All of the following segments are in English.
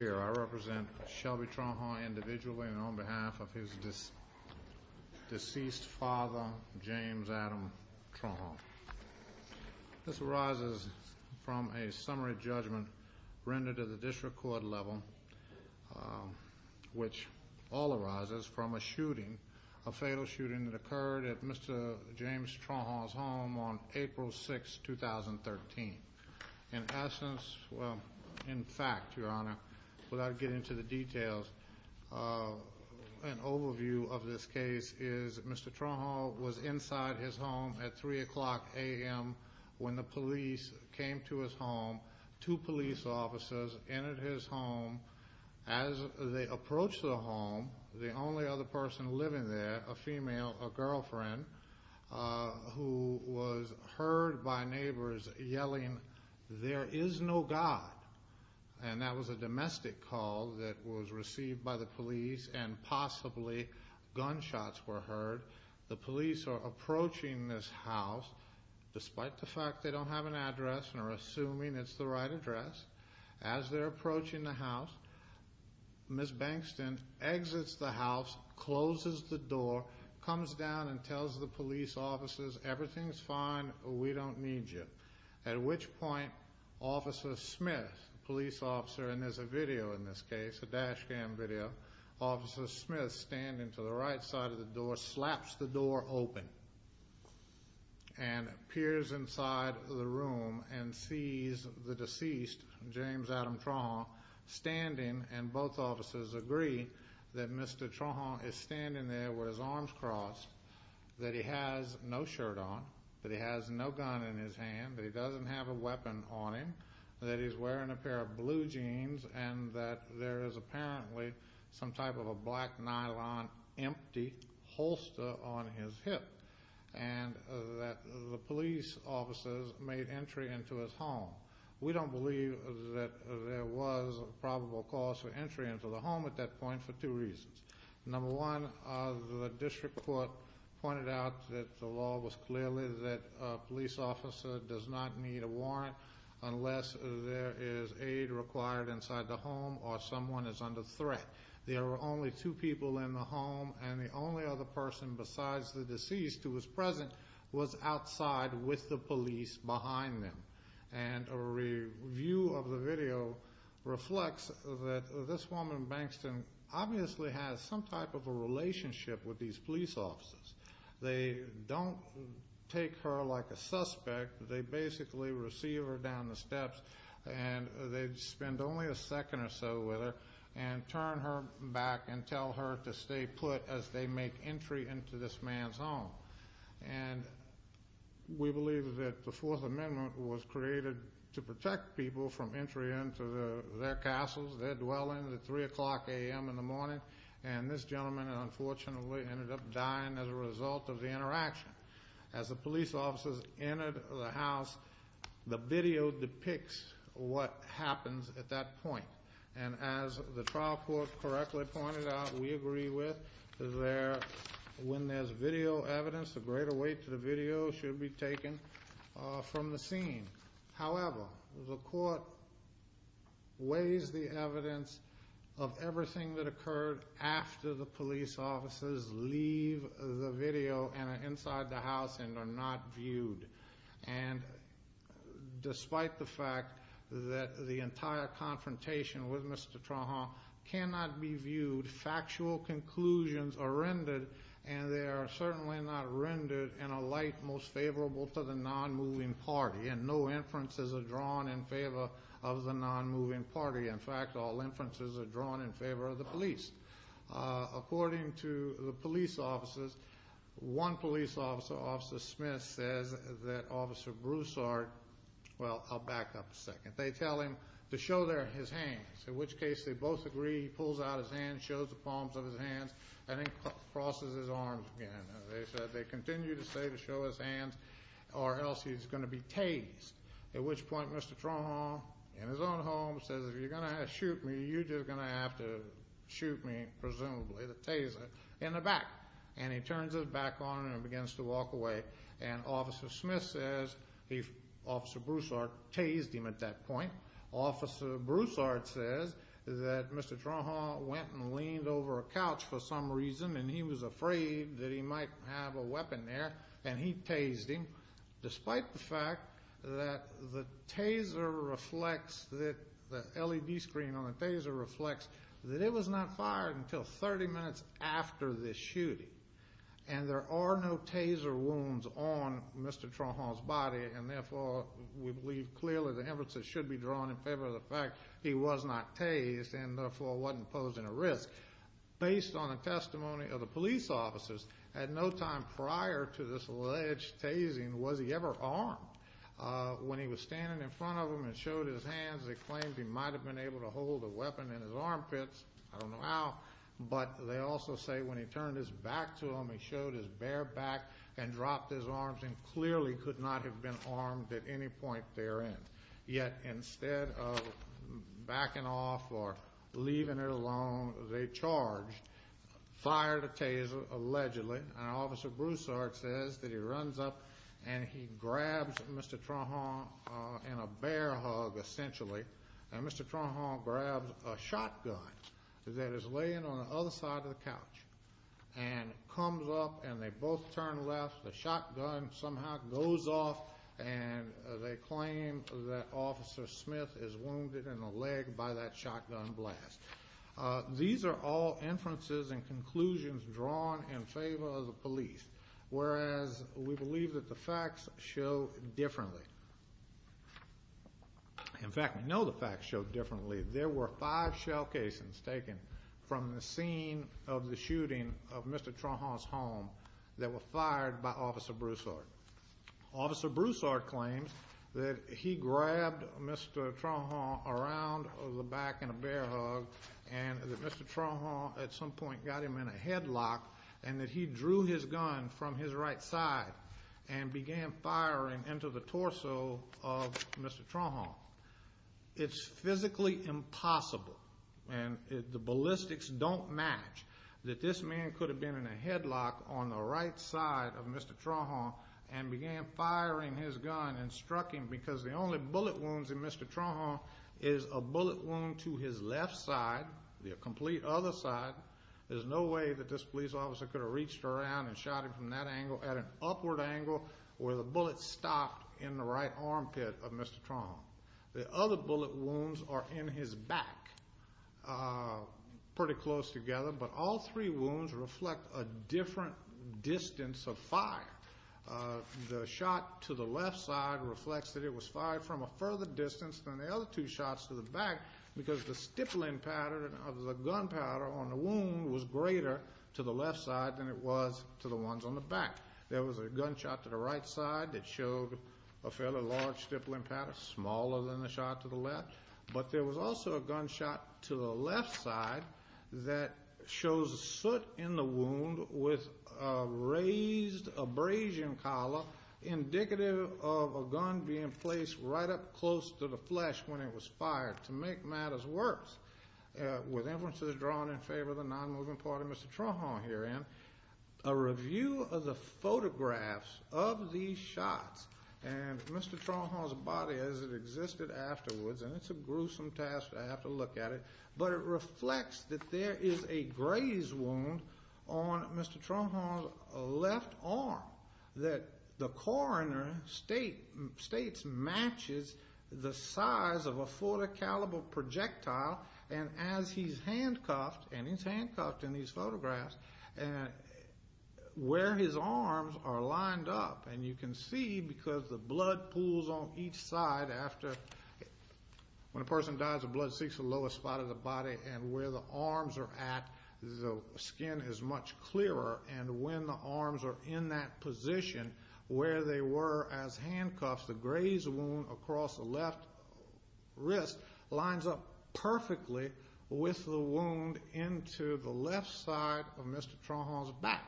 Here I represent Shelby Trahan individually and on behalf of his deceased father, James Adam Trahan. This arises from a summary judgment rendered at the district court level, which all arises from a shooting, a fatal shooting that occurred at Mr. James Trahan's home on April 6, 2013. In essence, well, in fact, Your Honor, without getting into the details, an overview of this case is Mr. Trahan was inside his home at 3 o'clock a.m. when the police came to his home. Two police officers entered his home. As they approached the home, the only other person living there, a female, a girlfriend, who was heard by neighbors yelling, There is no God. And that was a domestic call that was received by the police and possibly gunshots were heard. The police are approaching this house. Despite the fact they don't have an address and are assuming it's the right address, as they're approaching the house, Ms. Bankston exits the house, closes the door, comes down and tells the police officers, Everything's fine. We don't need you. At which point, Officer Smith, police officer, and there's a video in this case, a dash cam video, Officer Smith, standing to the right side of the door, slaps the door open and peers inside the room and sees the deceased, James Adam Trahan, standing. And both officers agree that Mr. Trahan is standing there with his arms crossed, that he has no shirt on, that he has no gun in his hand, that he doesn't have a weapon on him, that he's wearing a pair of blue jeans, and that there is apparently some type of a black nylon empty holster on his hip, and that the police officers made entry into his home. We don't believe that there was a probable cause for entry into the home at that point for two reasons. Number one, the district court pointed out that the law was clearly that a police officer does not need a warrant unless there is aid required inside the home or someone is under threat. There were only two people in the home, and the only other person besides the deceased who was present was outside with the police behind them. And a review of the video reflects that this woman, Bankston, obviously has some type of a relationship with these police officers. They don't take her like a suspect. They basically receive her down the steps, and they spend only a second or so with her and turn her back and tell her to stay put as they make entry into this man's home. And we believe that the Fourth Amendment was created to protect people from entry into their castles, their dwelling, at 3 o'clock a.m. in the morning. And this gentleman, unfortunately, ended up dying as a result of the interaction. As the police officers entered the house, the video depicts what happens at that point. And as the trial court correctly pointed out, we agree with that when there's video evidence, a greater weight to the video should be taken from the scene. However, the court weighs the evidence of everything that occurred after the police officers leave the video and are inside the house and are not viewed. And despite the fact that the entire confrontation with Mr. Trahan cannot be viewed, factual conclusions are rendered, and they are certainly not rendered in a light most favorable to the non-moving party. And no inferences are drawn in favor of the non-moving party. In fact, all inferences are drawn in favor of the police. According to the police officers, one police officer, Officer Smith, says that Officer Broussard Well, I'll back up a second. They tell him to show his hands, in which case they both agree. He pulls out his hands, shows the palms of his hands, and then crosses his arms again. They continue to say to show his hands or else he's going to be tased. At which point Mr. Trahan, in his own home, says, If you're going to shoot me, you're just going to have to shoot me, presumably, the taser, in the back. And he turns his back on him and begins to walk away. And Officer Smith says Officer Broussard tased him at that point. Officer Broussard says that Mr. Trahan went and leaned over a couch for some reason and he was afraid that he might have a weapon there. And he tased him, despite the fact that the taser reflects that the LED screen on the taser reflects that it was not fired until 30 minutes after the shooting. And there are no taser wounds on Mr. Trahan's body. And, therefore, we believe clearly the inferences should be drawn in favor of the fact he was not tased and, therefore, wasn't posing a risk. Based on the testimony of the police officers, at no time prior to this alleged tasing was he ever armed. When he was standing in front of them and showed his hands, they claimed he might have been able to hold a weapon in his armpits. I don't know how. But they also say when he turned his back to them, he showed his bare back and dropped his arms and clearly could not have been armed at any point therein. Yet, instead of backing off or leaving it alone, they charged, fired a taser, allegedly. And Officer Broussard says that he runs up and he grabs Mr. Trahan in a bear hug, essentially. And Mr. Trahan grabs a shotgun that is laying on the other side of the couch and comes up and they both turn left. The shotgun somehow goes off and they claim that Officer Smith is wounded in the leg by that shotgun blast. These are all inferences and conclusions drawn in favor of the police, whereas we believe that the facts show differently. In fact, we know the facts show differently. There were five shell casings taken from the scene of the shooting of Mr. Trahan's home that were fired by Officer Broussard. Officer Broussard claims that he grabbed Mr. Trahan around the back in a bear hug and that Mr. Trahan at some point got him in a headlock and that he drew his gun from his right side and began firing into the torso of Mr. Trahan. It's physically impossible, and the ballistics don't match, that this man could have been in a headlock on the right side of Mr. Trahan and began firing his gun and struck him because the only bullet wounds in Mr. Trahan is a bullet wound to his left side, the complete other side. There's no way that this police officer could have reached around and shot him from that angle at an upward angle where the bullet stopped in the right armpit of Mr. Trahan. The other bullet wounds are in his back pretty close together, but all three wounds reflect a different distance of fire. The shot to the left side reflects that it was fired from a further distance than the other two shots to the back because the stippling pattern of the gunpowder on the wound was greater to the left side than it was to the ones on the back. There was a gunshot to the right side that showed a fairly large stippling pattern, smaller than the shot to the left, but there was also a gunshot to the left side that shows a soot in the wound with a raised abrasion collar indicative of a gun being placed right up close to the flesh when it was fired to make matters worse, with inferences drawn in favor of the nonmoving part of Mr. Trahan herein. A review of the photographs of these shots and Mr. Trahan's body as it existed afterwards, and it's a gruesome task to have to look at it, but it reflects that there is a graze wound on Mr. Trahan's left arm that the coroner states matches the size of a .40 caliber projectile, and as he's handcuffed, and he's handcuffed in these photographs, where his arms are lined up. And you can see because the blood pools on each side after. When a person dies, the blood seeks the lowest spot of the body, and where the arms are at, the skin is much clearer. And when the arms are in that position where they were as handcuffs, the graze wound across the left wrist lines up perfectly with the wound into the left side of Mr. Trahan's back.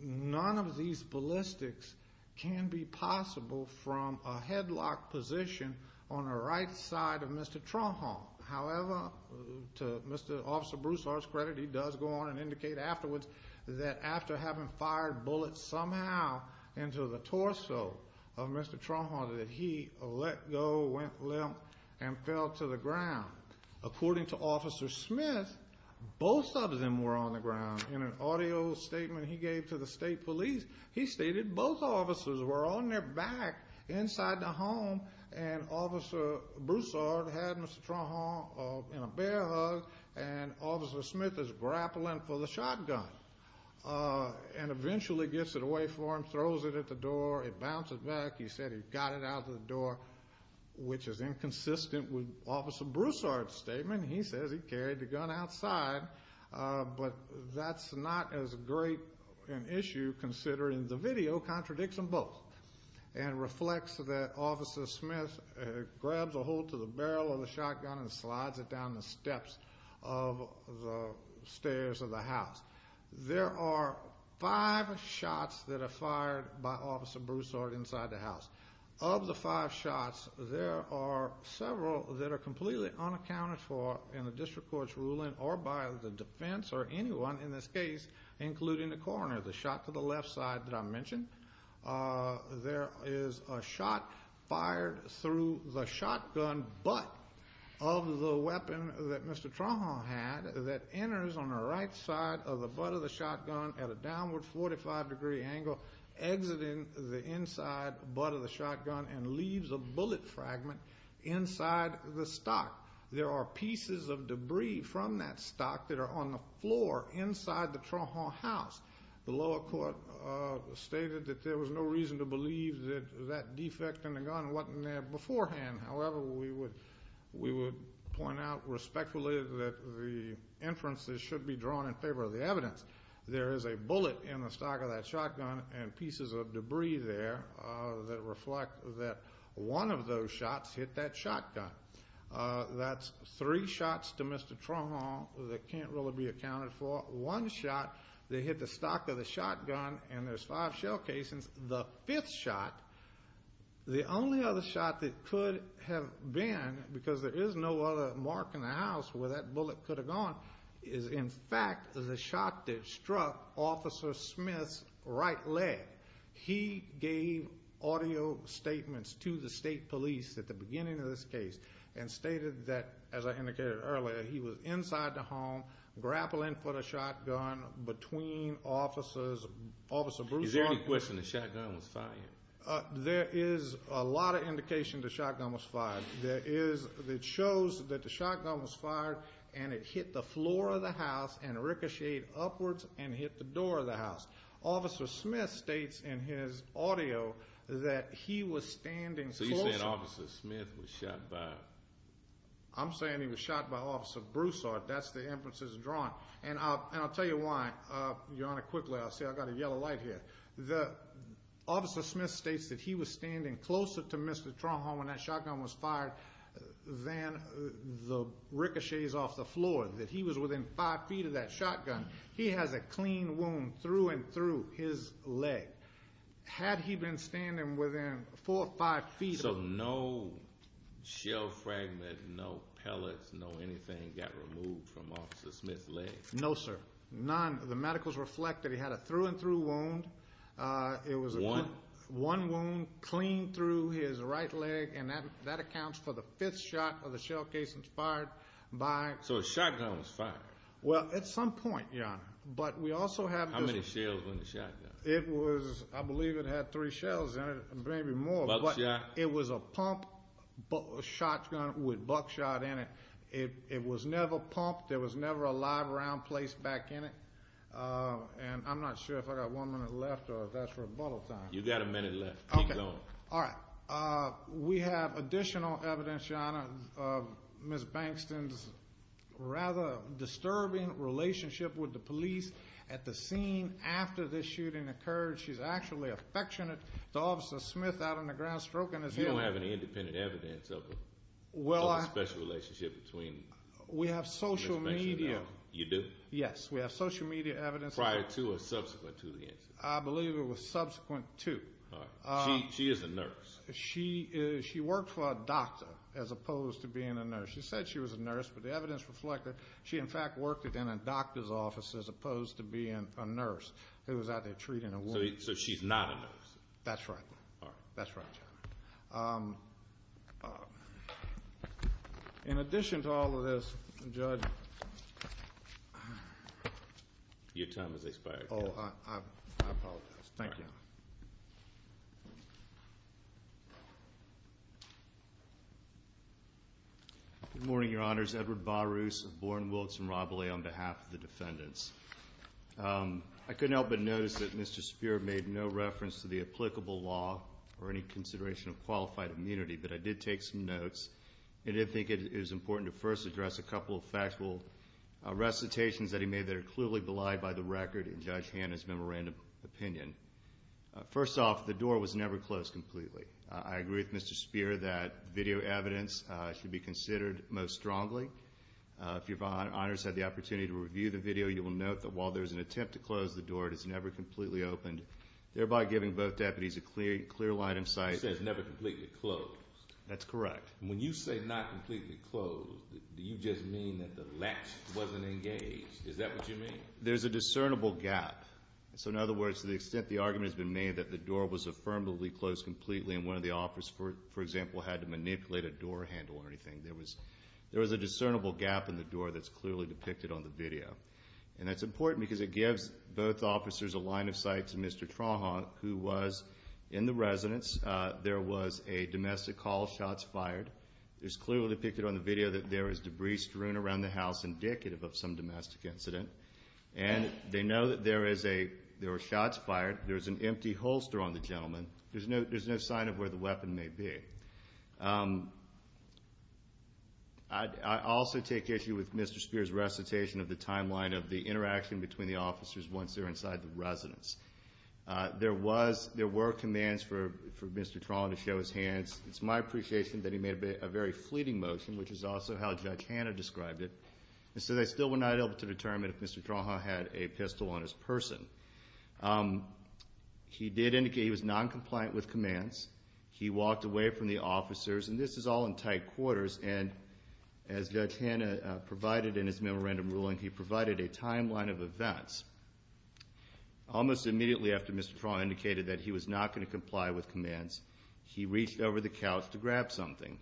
None of these ballistics can be possible from a headlock position on the right side of Mr. Trahan. However, to Officer Bruce Hart's credit, he does go on and indicate afterwards that after having fired bullets somehow into the torso of Mr. Trahan, that he let go, went limp, and fell to the ground. According to Officer Smith, both of them were on the ground. In an audio statement he gave to the state police, he stated both officers were on their back inside the home, and Officer Bruce Hart had Mr. Trahan in a bear hug, and Officer Smith is grappling for the shotgun, and eventually gets it away from him, throws it at the door, it bounces back. He said he got it out of the door, which is inconsistent with Officer Bruce Hart's statement. He says he carried the gun outside, but that's not as great an issue considering the video contradicts them both and reflects that Officer Smith grabs a hold to the barrel of the shotgun and slides it down the steps of the stairs of the house. There are five shots that are fired by Officer Bruce Hart inside the house. Of the five shots, there are several that are completely unaccounted for in the district court's ruling or by the defense or anyone in this case, including the coroner. The shot to the left side that I mentioned, there is a shot fired through the shotgun butt of the weapon that Mr. Trahan had that enters on the right side of the butt of the shotgun at a downward 45-degree angle exiting the inside butt of the shotgun and leaves a bullet fragment inside the stock. There are pieces of debris from that stock that are on the floor inside the Trahan house. The lower court stated that there was no reason to believe that that defect in the gun wasn't there beforehand. However, we would point out respectfully that the inferences should be drawn in favor of the evidence. There is a bullet in the stock of that shotgun and pieces of debris there that reflect that one of those shots hit that shotgun. That's three shots to Mr. Trahan that can't really be accounted for. One shot, they hit the stock of the shotgun, and there's five shell casings. The fifth shot, the only other shot that could have been, because there is no other mark in the house where that bullet could have gone, is, in fact, the shot that struck Officer Smith's right leg. He gave audio statements to the state police at the beginning of this case and stated that, as I indicated earlier, he was inside the home grappling for the shotgun between Officer Bruce's office. Is there any question the shotgun was fired? There is a lot of indication the shotgun was fired. It shows that the shotgun was fired and it hit the floor of the house and ricocheted upwards and hit the door of the house. Officer Smith states in his audio that he was standing closer. So you're saying Officer Smith was shot by? I'm saying he was shot by Officer Broussard. That's the inferences drawn. And I'll tell you why. Your Honor, quickly, I'll say I've got a yellow light here. Officer Smith states that he was standing closer to Mr. Tronholm when that shotgun was fired than the ricochets off the floor, that he was within five feet of that shotgun. He has a clean wound through and through his leg. Had he been standing within four or five feet of him? So no shell fragment, no pellets, no anything got removed from Officer Smith's leg? No, sir. None? The medicals reflect that he had a through and through wound. One? One wound clean through his right leg, and that accounts for the fifth shot of the shell case fired by. So a shotgun was fired? Well, at some point, Your Honor, but we also have. How many shells in the shotgun? It was, I believe it had three shells in it, maybe more. Buckshot? It was a pump shotgun with buckshot in it. It was never pumped. There was never a live round placed back in it. And I'm not sure if I've got one minute left or if that's rebuttal time. You've got a minute left. Keep going. All right. We have additional evidence, Your Honor, of Ms. Bankston's rather disturbing relationship with the police at the scene after this shooting occurred. She's actually affectionate to Officer Smith out on the ground stroking his head. You don't have any independent evidence of a special relationship between Ms. Bankston and her? We have social media. You do? Yes. We have social media evidence. Prior to or subsequent to the incident? I believe it was subsequent to. All right. She is a nurse. She worked for a doctor as opposed to being a nurse. She said she was a nurse, but the evidence reflected she, in fact, worked in a doctor's office as opposed to being a nurse who was out there treating a woman. So she's not a nurse? That's right. All right. That's right, Your Honor. In addition to all of this, Judge, your time has expired. Oh, I apologize. Thank you. Good morning, Your Honors. Edward Barus of Bourne, Wilkes, and Robilly on behalf of the defendants. I couldn't help but notice that Mr. Spear made no reference to the applicable law or any consideration of qualified immunity, but I did take some notes and did think it was important to first address a couple of factual recitations that he made that are clearly belied by the record in Judge Hanna's memorandum opinion. First off, the door was never closed completely. I agree with Mr. Spear that video evidence should be considered most strongly. If your Honors had the opportunity to review the video, you will note that while there is an attempt to close the door, it is never completely opened, thereby giving both deputies a clear line of sight. It says never completely closed. That's correct. When you say not completely closed, do you just mean that the latch wasn't engaged? Is that what you mean? There's a discernible gap. So in other words, to the extent the argument has been made that the door was affirmatively closed completely and one of the officers, for example, had to manipulate a door handle or anything, there was a discernible gap in the door that's clearly depicted on the video. And that's important because it gives both officers a line of sight to Mr. Trawhon, who was in the residence. There was a domestic call, shots fired. It's clearly depicted on the video that there is debris strewn around the house indicative of some domestic incident. And they know that there were shots fired. There's an empty holster on the gentleman. There's no sign of where the weapon may be. I also take issue with Mr. Speer's recitation of the timeline of the interaction between the officers once they're inside the residence. There were commands for Mr. Trawhon to show his hands. It's my appreciation that he made a very fleeting motion, which is also how Judge Hanna described it. And so they still were not able to determine if Mr. Trawhon had a pistol on his person. He did indicate he was noncompliant with commands. He walked away from the officers. And this is all in tight quarters. And as Judge Hanna provided in his memorandum ruling, he provided a timeline of events. Almost immediately after Mr. Trawhon indicated that he was not going to comply with commands, he reached over the couch to grab something.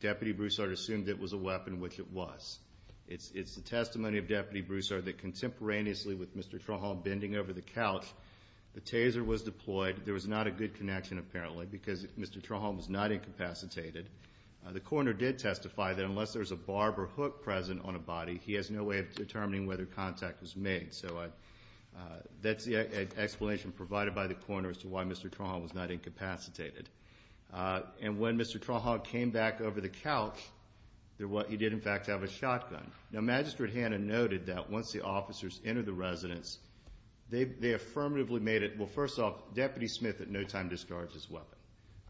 Deputy Broussard assumed it was a weapon, which it was. It's the testimony of Deputy Broussard that contemporaneously with Mr. Trawhon bending over the couch, the taser was deployed. There was not a good connection, apparently, because Mr. Trawhon was not incapacitated. The coroner did testify that unless there's a barb or hook present on a body, he has no way of determining whether contact was made. So that's the explanation provided by the coroner as to why Mr. Trawhon was not incapacitated. And when Mr. Trawhon came back over the couch, he did, in fact, have a shotgun. Now, Magistrate Hanna noted that once the officers entered the residence, they affirmatively made it, well, first off, Deputy Smith at no time discharged his weapon.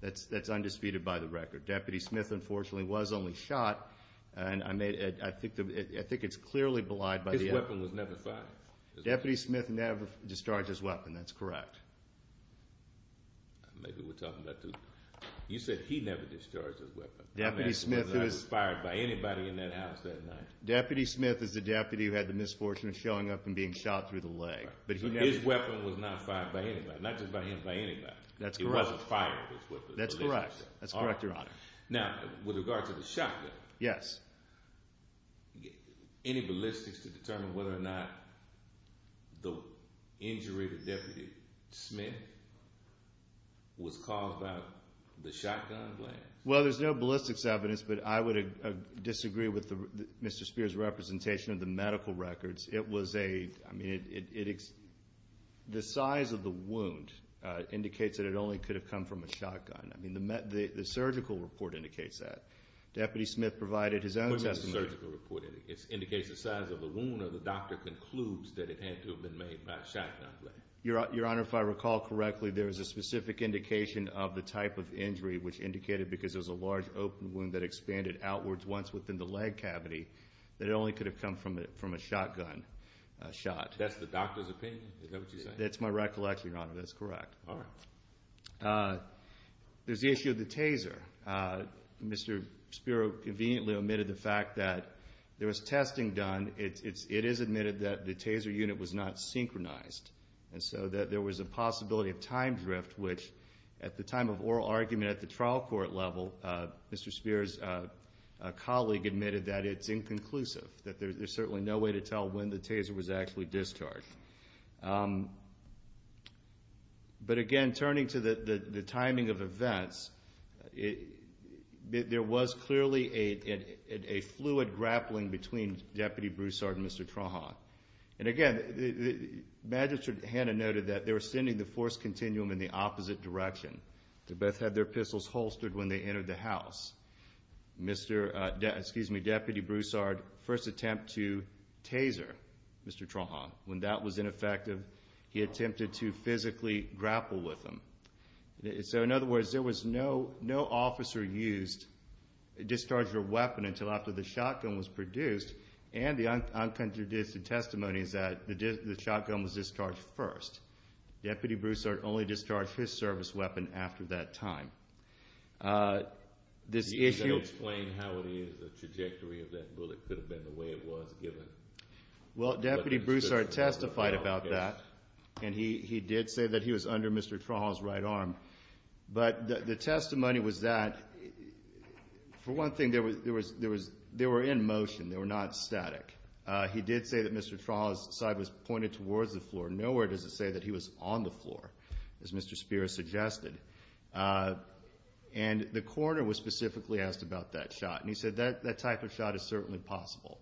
That's undisputed by the record. Deputy Smith, unfortunately, was only shot. And I think it's clearly belied by the evidence. His weapon was never fired. Deputy Smith never discharged his weapon. That's correct. Maybe we're talking about two. You said he never discharged his weapon. Deputy Smith was not fired by anybody in that house that night. Deputy Smith is the deputy who had the misfortune of showing up and being shot through the leg. But his weapon was not fired by anybody, not just by him, by anybody. That's correct. He wasn't fired with his weapon. That's correct. That's correct, Your Honor. Now, with regard to the shotgun. Yes. Any ballistics to determine whether or not the injury to Deputy Smith was caused by the shotgun blast? Well, there's no ballistics evidence, but I would disagree with Mr. Spears' representation of the medical records. It was a, I mean, the size of the wound indicates that it only could have come from a shotgun. I mean, the surgical report indicates that. Deputy Smith provided his own testimony. It was a surgical report. It indicates the size of the wound, or the doctor concludes that it had to have been made by a shotgun blast. Your Honor, if I recall correctly, there was a specific indication of the type of injury, which indicated because it was a large open wound that expanded outwards once within the leg cavity, that it only could have come from a shotgun shot. That's the doctor's opinion? Is that what you're saying? That's my recollection, Your Honor. That's correct. All right. There's the issue of the taser. Mr. Spear conveniently omitted the fact that there was testing done. It is admitted that the taser unit was not synchronized, and so that there was a possibility of time drift, which at the time of oral argument at the trial court level, Mr. Spear's colleague admitted that it's inconclusive, that there's certainly no way to tell when the taser was actually discharged. But, again, turning to the timing of events, there was clearly a fluid grappling between Deputy Broussard and Mr. Traha. And, again, Magistrate Hanna noted that they were sending the force continuum in the opposite direction. They both had their pistols holstered when they entered the house. Deputy Broussard, first attempt to taser Mr. Traha. When that was ineffective, he attempted to physically grapple with him. So, in other words, there was no officer discharged a weapon until after the shotgun was produced, and the uncontradicted testimony is that the shotgun was discharged first. Deputy Broussard only discharged his service weapon after that time. Can you explain how it is, the trajectory of that bullet? Could it have been the way it was given? Well, Deputy Broussard testified about that, and he did say that he was under Mr. Traha's right arm. But the testimony was that, for one thing, they were in motion. They were not static. He did say that Mr. Traha's side was pointed towards the floor. Nowhere does it say that he was on the floor, as Mr. Spear has suggested. And the coroner was specifically asked about that shot, and he said that type of shot is certainly possible.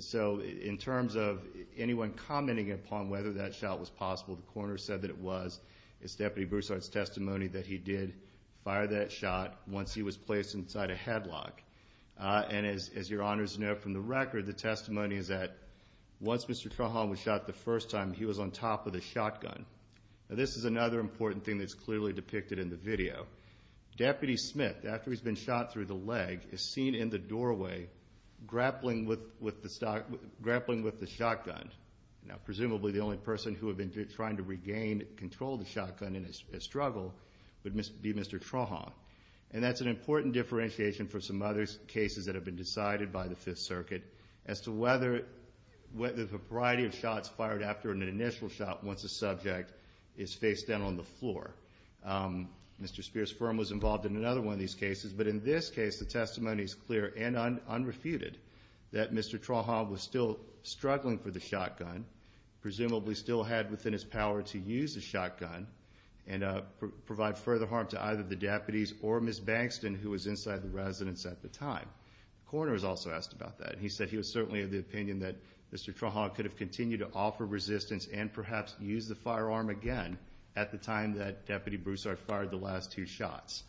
So, in terms of anyone commenting upon whether that shot was possible, the coroner said that it was. It's Deputy Broussard's testimony that he did fire that shot once he was placed inside a headlock. And as your honors know from the record, the testimony is that once Mr. Traha was shot the first time, he was on top of the shotgun. Now, this is another important thing that's clearly depicted in the video. Deputy Smith, after he's been shot through the leg, is seen in the doorway grappling with the shotgun. Now, presumably the only person who had been trying to regain control of the shotgun in his struggle would be Mr. Traha. And that's an important differentiation for some other cases that have been decided by the Fifth Circuit, as to whether the variety of shots fired after an initial shot, once a subject is faced down on the floor. Mr. Speer's firm was involved in another one of these cases, but in this case, the testimony is clear and unrefuted that Mr. Traha was still struggling for the shotgun, presumably still had within his power to use the shotgun, and provide further harm to either the deputies or Ms. Bankston, who was inside the residence at the time. The coroner was also asked about that. He said he was certainly of the opinion that Mr. Traha could have continued to offer resistance and perhaps use the firearm again at the time that Deputy Broussard fired the last two shots.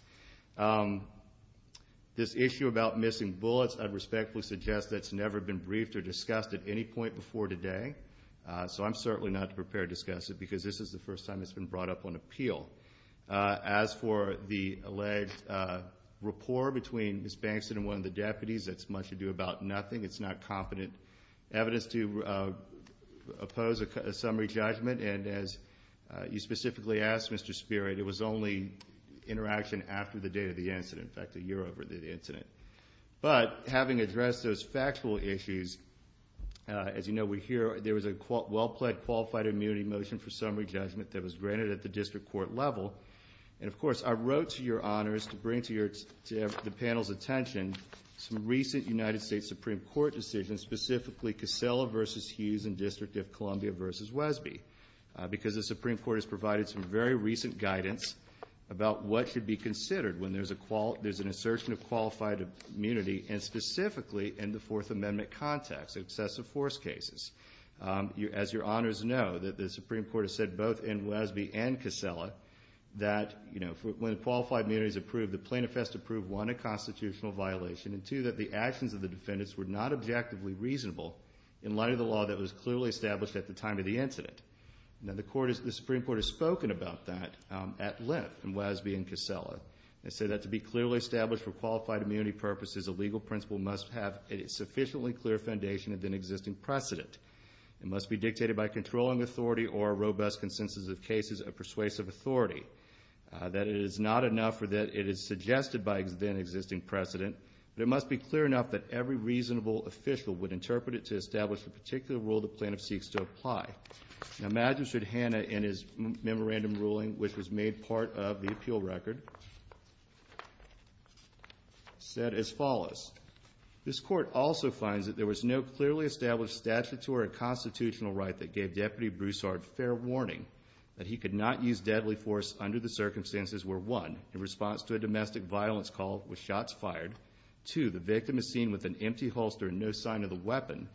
This issue about missing bullets, I'd respectfully suggest that's never been briefed or discussed at any point before today. So I'm certainly not prepared to discuss it, because this is the first time it's been brought up on appeal. As for the alleged rapport between Ms. Bankston and one of the deputies, that's much ado about nothing. It's not competent evidence to oppose a summary judgment. And as you specifically asked, Mr. Speer, it was only interaction after the date of the incident, in fact, a year over the incident. But having addressed those factual issues, as you know, we hear there was a well-plaid qualified immunity motion for summary judgment that was granted at the district court level. And, of course, I wrote to your honors to bring to the panel's attention some recent United States Supreme Court decisions, specifically Casella v. Hughes and District of Columbia v. Wesby, because the Supreme Court has provided some very recent guidance about what should be considered when there's an assertion of qualified immunity, and specifically in the Fourth Amendment context, excessive force cases. As your honors know, the Supreme Court has said, both in Wesby and Casella, that when qualified immunity is approved, the plaintiff has to prove, one, a constitutional violation, and, two, that the actions of the defendants were not objectively reasonable in light of the law that was clearly established at the time of the incident. Now, the Supreme Court has spoken about that at length in Wesby and Casella. They say that to be clearly established for qualified immunity purposes, a legal principle must have a sufficiently clear foundation of an existing precedent. It must be dictated by controlling authority or a robust consensus of cases of persuasive authority. That it is not enough that it is suggested by an existing precedent, but it must be clear enough that every reasonable official would interpret it to establish the particular rule the plaintiff seeks to apply. Now, imagine should Hannah, in his memorandum ruling, which was made part of the appeal record, said as follows. This court also finds that there was no clearly established statutory constitutional right that gave Deputy Broussard fair warning that he could not use deadly force under the circumstances where, one, in response to a domestic violence call with shots fired, two, the victim is seen with an empty holster and no sign of the weapon,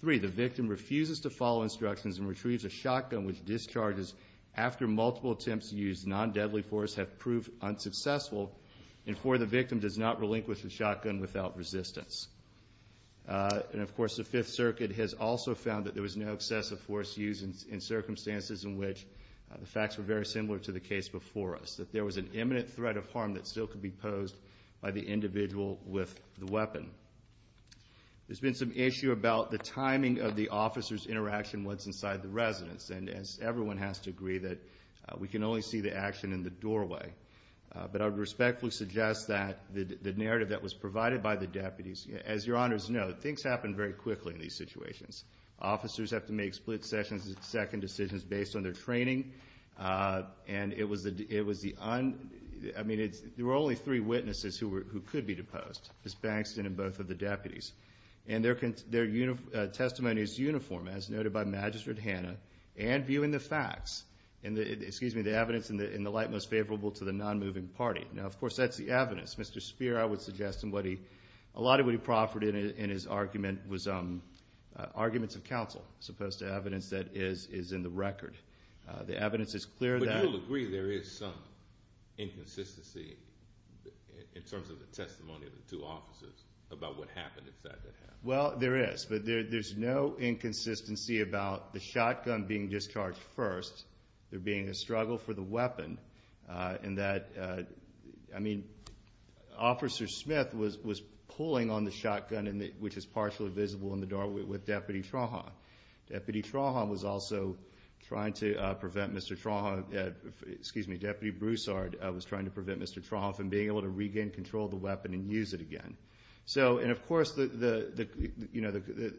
three, the victim refuses to follow instructions and retrieves a shotgun with discharges after multiple attempts to use non-deadly force have proved unsuccessful, and four, the victim does not relinquish the shotgun without resistance. And, of course, the Fifth Circuit has also found that there was no excessive force used in circumstances in which the facts were very similar to the case before us, that there was an imminent threat of harm that still could be posed by the individual with the weapon. There's been some issue about the timing of the officer's interaction once inside the residence, and everyone has to agree that we can only see the action in the doorway. But I would respectfully suggest that the narrative that was provided by the deputies, as Your Honors know, things happen very quickly in these situations. Officers have to make split-second decisions based on their training, and it was the un ñ I mean, there were only three witnesses who could be deposed, Ms. Bankston and both of the deputies. And their testimony is uniform, as noted by Magistrate Hanna, and viewing the facts, excuse me, the evidence in the light most favorable to the non-moving party. Now, of course, that's the evidence. Mr. Spear, I would suggest, and a lot of what he proffered in his argument was arguments of counsel as opposed to evidence that is in the record. The evidence is clear that ñ Well, there is, but there's no inconsistency about the shotgun being discharged first, there being a struggle for the weapon, and that, I mean, Officer Smith was pulling on the shotgun, which is partially visible in the doorway, with Deputy Trahan. Deputy Trahan was also trying to prevent Mr. Trahan, excuse me, Deputy Broussard was trying to prevent Mr. Trahan from being able to regain control of the weapon and use it again. So, and of course, the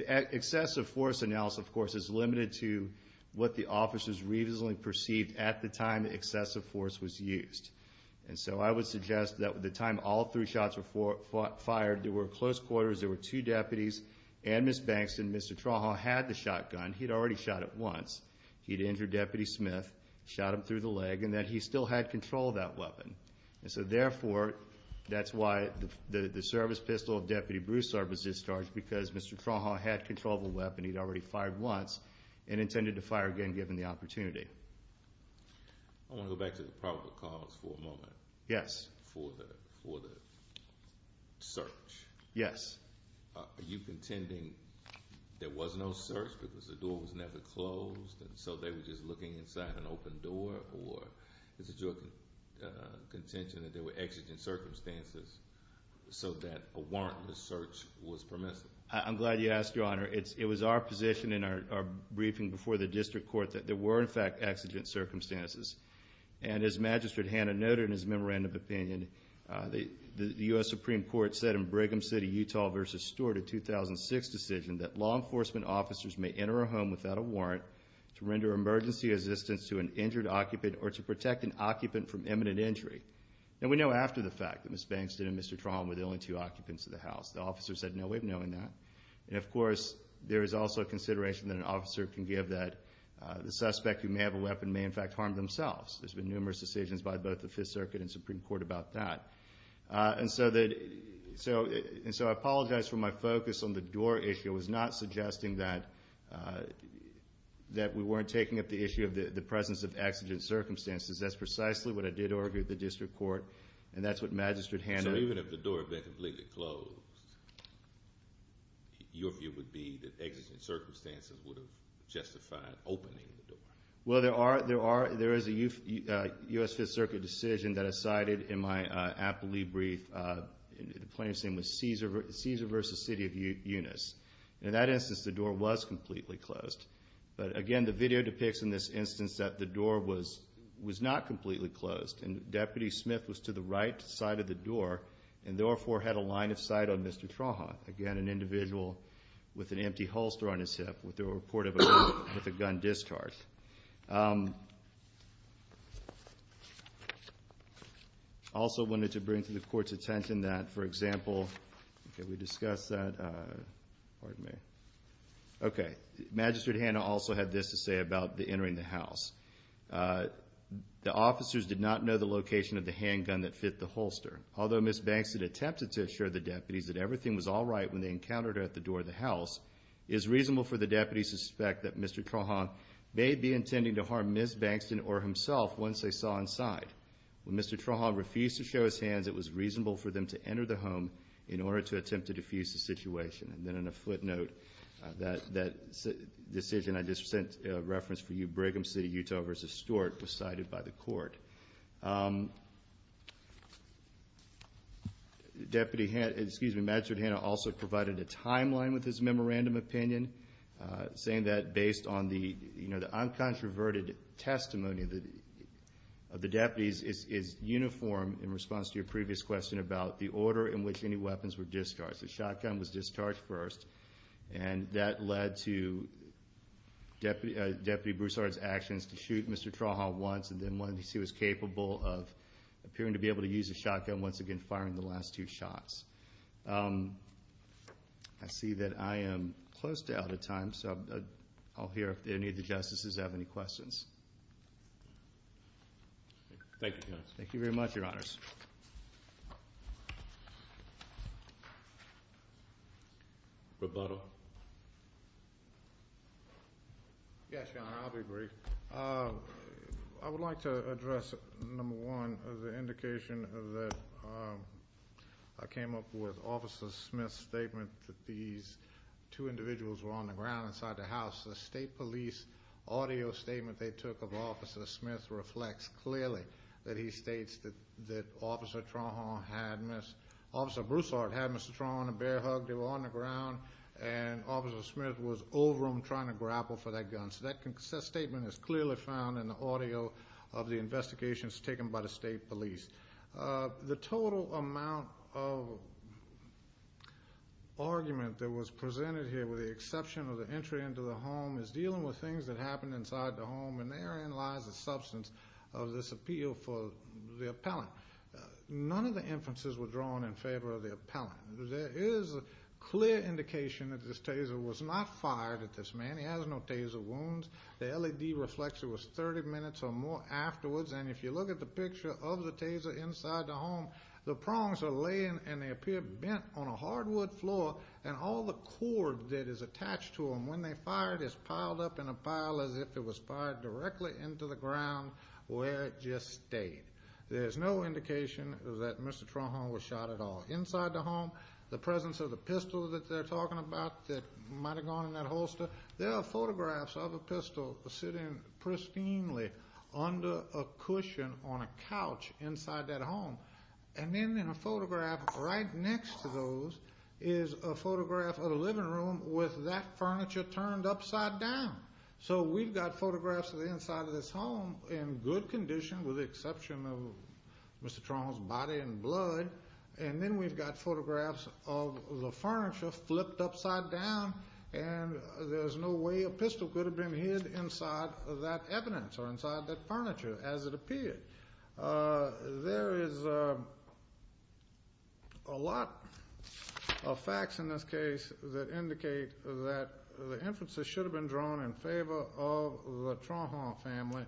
excessive force analysis, of course, is limited to what the officers reasonably perceived at the time excessive force was used. And so I would suggest that at the time all three shots were fired, there were close quarters, there were two deputies, and Ms. Bankston, Mr. Trahan, had the shotgun. He'd already shot it once. He'd injured Deputy Smith, shot him through the leg, and that he still had control of that weapon. And so, therefore, that's why the service pistol of Deputy Broussard was discharged, because Mr. Trahan had control of the weapon. He'd already fired once and intended to fire again, given the opportunity. I want to go back to the probable cause for a moment. Yes. For the search. Yes. Are you contending there was no search because the door was never closed, and so they were just looking inside an open door, or is it your contention that there were exigent circumstances so that a warrantless search was permissible? I'm glad you asked, Your Honor. It was our position in our briefing before the district court that there were, in fact, exigent circumstances. And as Magistrate Hanna noted in his memorandum of opinion, the U.S. Supreme Court said in Brigham City, Utah, a 2006 decision that law enforcement officers may enter a home without a warrant to render emergency assistance to an injured occupant or to protect an occupant from imminent injury. And we know after the fact that Ms. Bankston and Mr. Trahan were the only two occupants of the house. The officers had no way of knowing that. And, of course, there is also consideration that an officer can give that the suspect who may have a weapon may, in fact, harm themselves. There's been numerous decisions by both the Fifth Circuit and Supreme Court about that. And so I apologize for my focus on the door issue. It was not suggesting that we weren't taking up the issue of the presence of exigent circumstances. That's precisely what I did argue at the district court, and that's what Magistrate Hanna. So even if the door had been completely closed, your view would be that exigent circumstances would have justified opening the door? Well, there is a U.S. Fifth Circuit decision that is cited in my aptly brief. The plaintiff's name was Caesar v. City of Eunice. In that instance, the door was completely closed. But, again, the video depicts in this instance that the door was not completely closed, and Deputy Smith was to the right side of the door and therefore had a line of sight on Mr. Trahan, Again, an individual with an empty holster on his hip with a report of a gun discard. I also wanted to bring to the Court's attention that, for example, Magistrate Hanna also had this to say about entering the house. The officers did not know the location of the handgun that fit the holster. Although Ms. Bankston attempted to assure the deputies that everything was all right when they encountered her at the door of the house, it is reasonable for the deputies to suspect that Mr. Trahan may be intending to harm Ms. Bankston or himself once they saw inside. When Mr. Trahan refused to show his hands, it was reasonable for them to enter the home in order to attempt to diffuse the situation. And then on a footnote, that decision I just sent a reference for you, Brigham City, Utah v. Stewart, was cited by the Court. Deputy Hanna, excuse me, Magistrate Hanna also provided a timeline with his memorandum opinion, saying that based on the uncontroverted testimony of the deputies, it's uniform in response to your previous question about the order in which any weapons were discharged. The shotgun was discharged first, and that led to Deputy Broussard's actions to shoot Mr. Trahan once, and then when he was capable of appearing to be able to use the shotgun once again, firing the last two shots. I see that I am close to out of time, so I'll hear if any of the Justices have any questions. Thank you, Your Honor. Thank you very much, Your Honors. Rebuttal. Yes, Your Honor, I'll be brief. I would like to address, number one, the indication that I came up with Officer Smith's statement that these two individuals were on the ground inside the house. The State Police audio statement they took of Officer Smith reflects clearly that he states that Officer Trahan had Mr. Officer Broussard had Mr. Trahan a bear hug. They were on the ground, and Officer Smith was over him trying to grapple for that gun. So that statement is clearly found in the audio of the investigations taken by the State Police. The total amount of argument that was presented here, with the exception of the entry into the home, is dealing with things that happened inside the home, and therein lies the substance of this appeal for the appellant. None of the inferences were drawn in favor of the appellant. There is a clear indication that this taser was not fired at this man. He has no taser wounds. The LED reflector was 30 minutes or more afterwards. And if you look at the picture of the taser inside the home, the prongs are laying and they appear bent on a hardwood floor, and all the cord that is attached to them when they're fired is piled up in a pile as if it was fired directly into the ground where it just stayed. There's no indication that Mr. Trahan was shot at all. Inside the home, the presence of the pistol that they're talking about that might have gone in that holster, there are photographs of a pistol sitting pristinely under a cushion on a couch inside that home. And then in a photograph right next to those is a photograph of the living room with that furniture turned upside down. So we've got photographs of the inside of this home in good condition, with the exception of Mr. Trahan's body and blood. And then we've got photographs of the furniture flipped upside down, and there's no way a pistol could have been hid inside that evidence or inside that furniture as it appeared. There is a lot of facts in this case that indicate that the inferences should have been drawn in favor of the Trahan family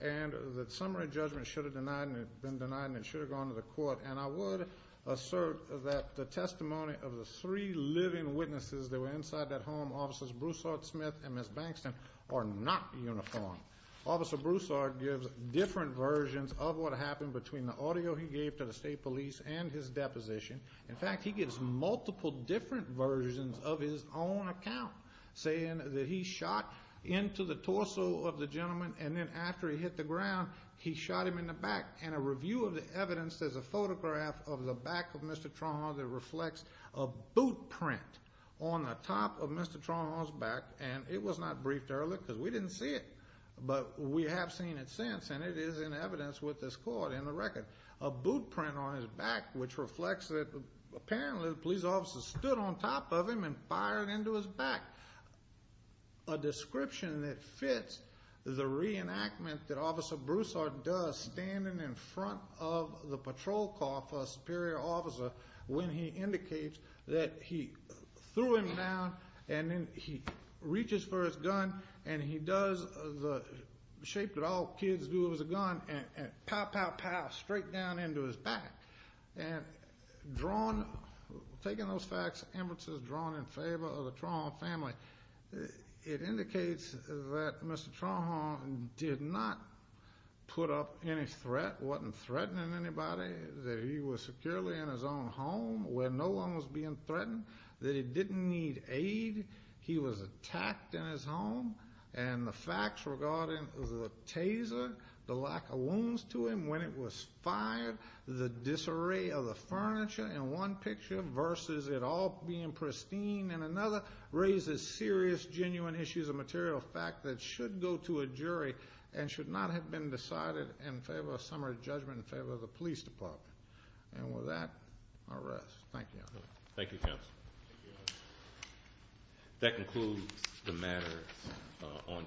and that summary judgment should have been denied and it should have gone to the court. And I would assert that the testimony of the three living witnesses that were inside that home, Officers Broussard, Smith, and Ms. Bankston, are not uniform. Officer Broussard gives different versions of what happened between the audio he gave to the state police and his deposition. In fact, he gives multiple different versions of his own account, saying that he shot into the torso of the gentleman and then after he hit the ground, he shot him in the back. And a review of the evidence, there's a photograph of the back of Mr. Trahan that reflects a boot print on the top of Mr. Trahan's back. And it was not briefed earlier because we didn't see it, but we have seen it since and it is in evidence with this court in the record. A boot print on his back, which reflects that apparently the police officer stood on top of him and fired into his back. A description that fits the reenactment that Officer Broussard does standing in front of the patrol car for a superior officer when he indicates that he threw him down and then he reaches for his gun and he does the shape that all kids do with a gun and pow, pow, pow, straight down into his back. And drawn, taking those facts, Emerson's drawn in favor of the Trahan family. It indicates that Mr. Trahan did not put up any threat, wasn't threatening anybody, that he was securely in his own home where no one was being threatened, that he didn't need aid, he was attacked in his home, and the facts regarding the taser, the lack of wounds to him when it was fired, the disarray of the furniture in one picture versus it all being pristine in another raises serious, genuine issues of material fact that should go to a jury and should not have been decided in favor of summary judgment in favor of the police department. And with that, I'll rest. Thank you. Thank you, counsel. That concludes the matter on today's hearing.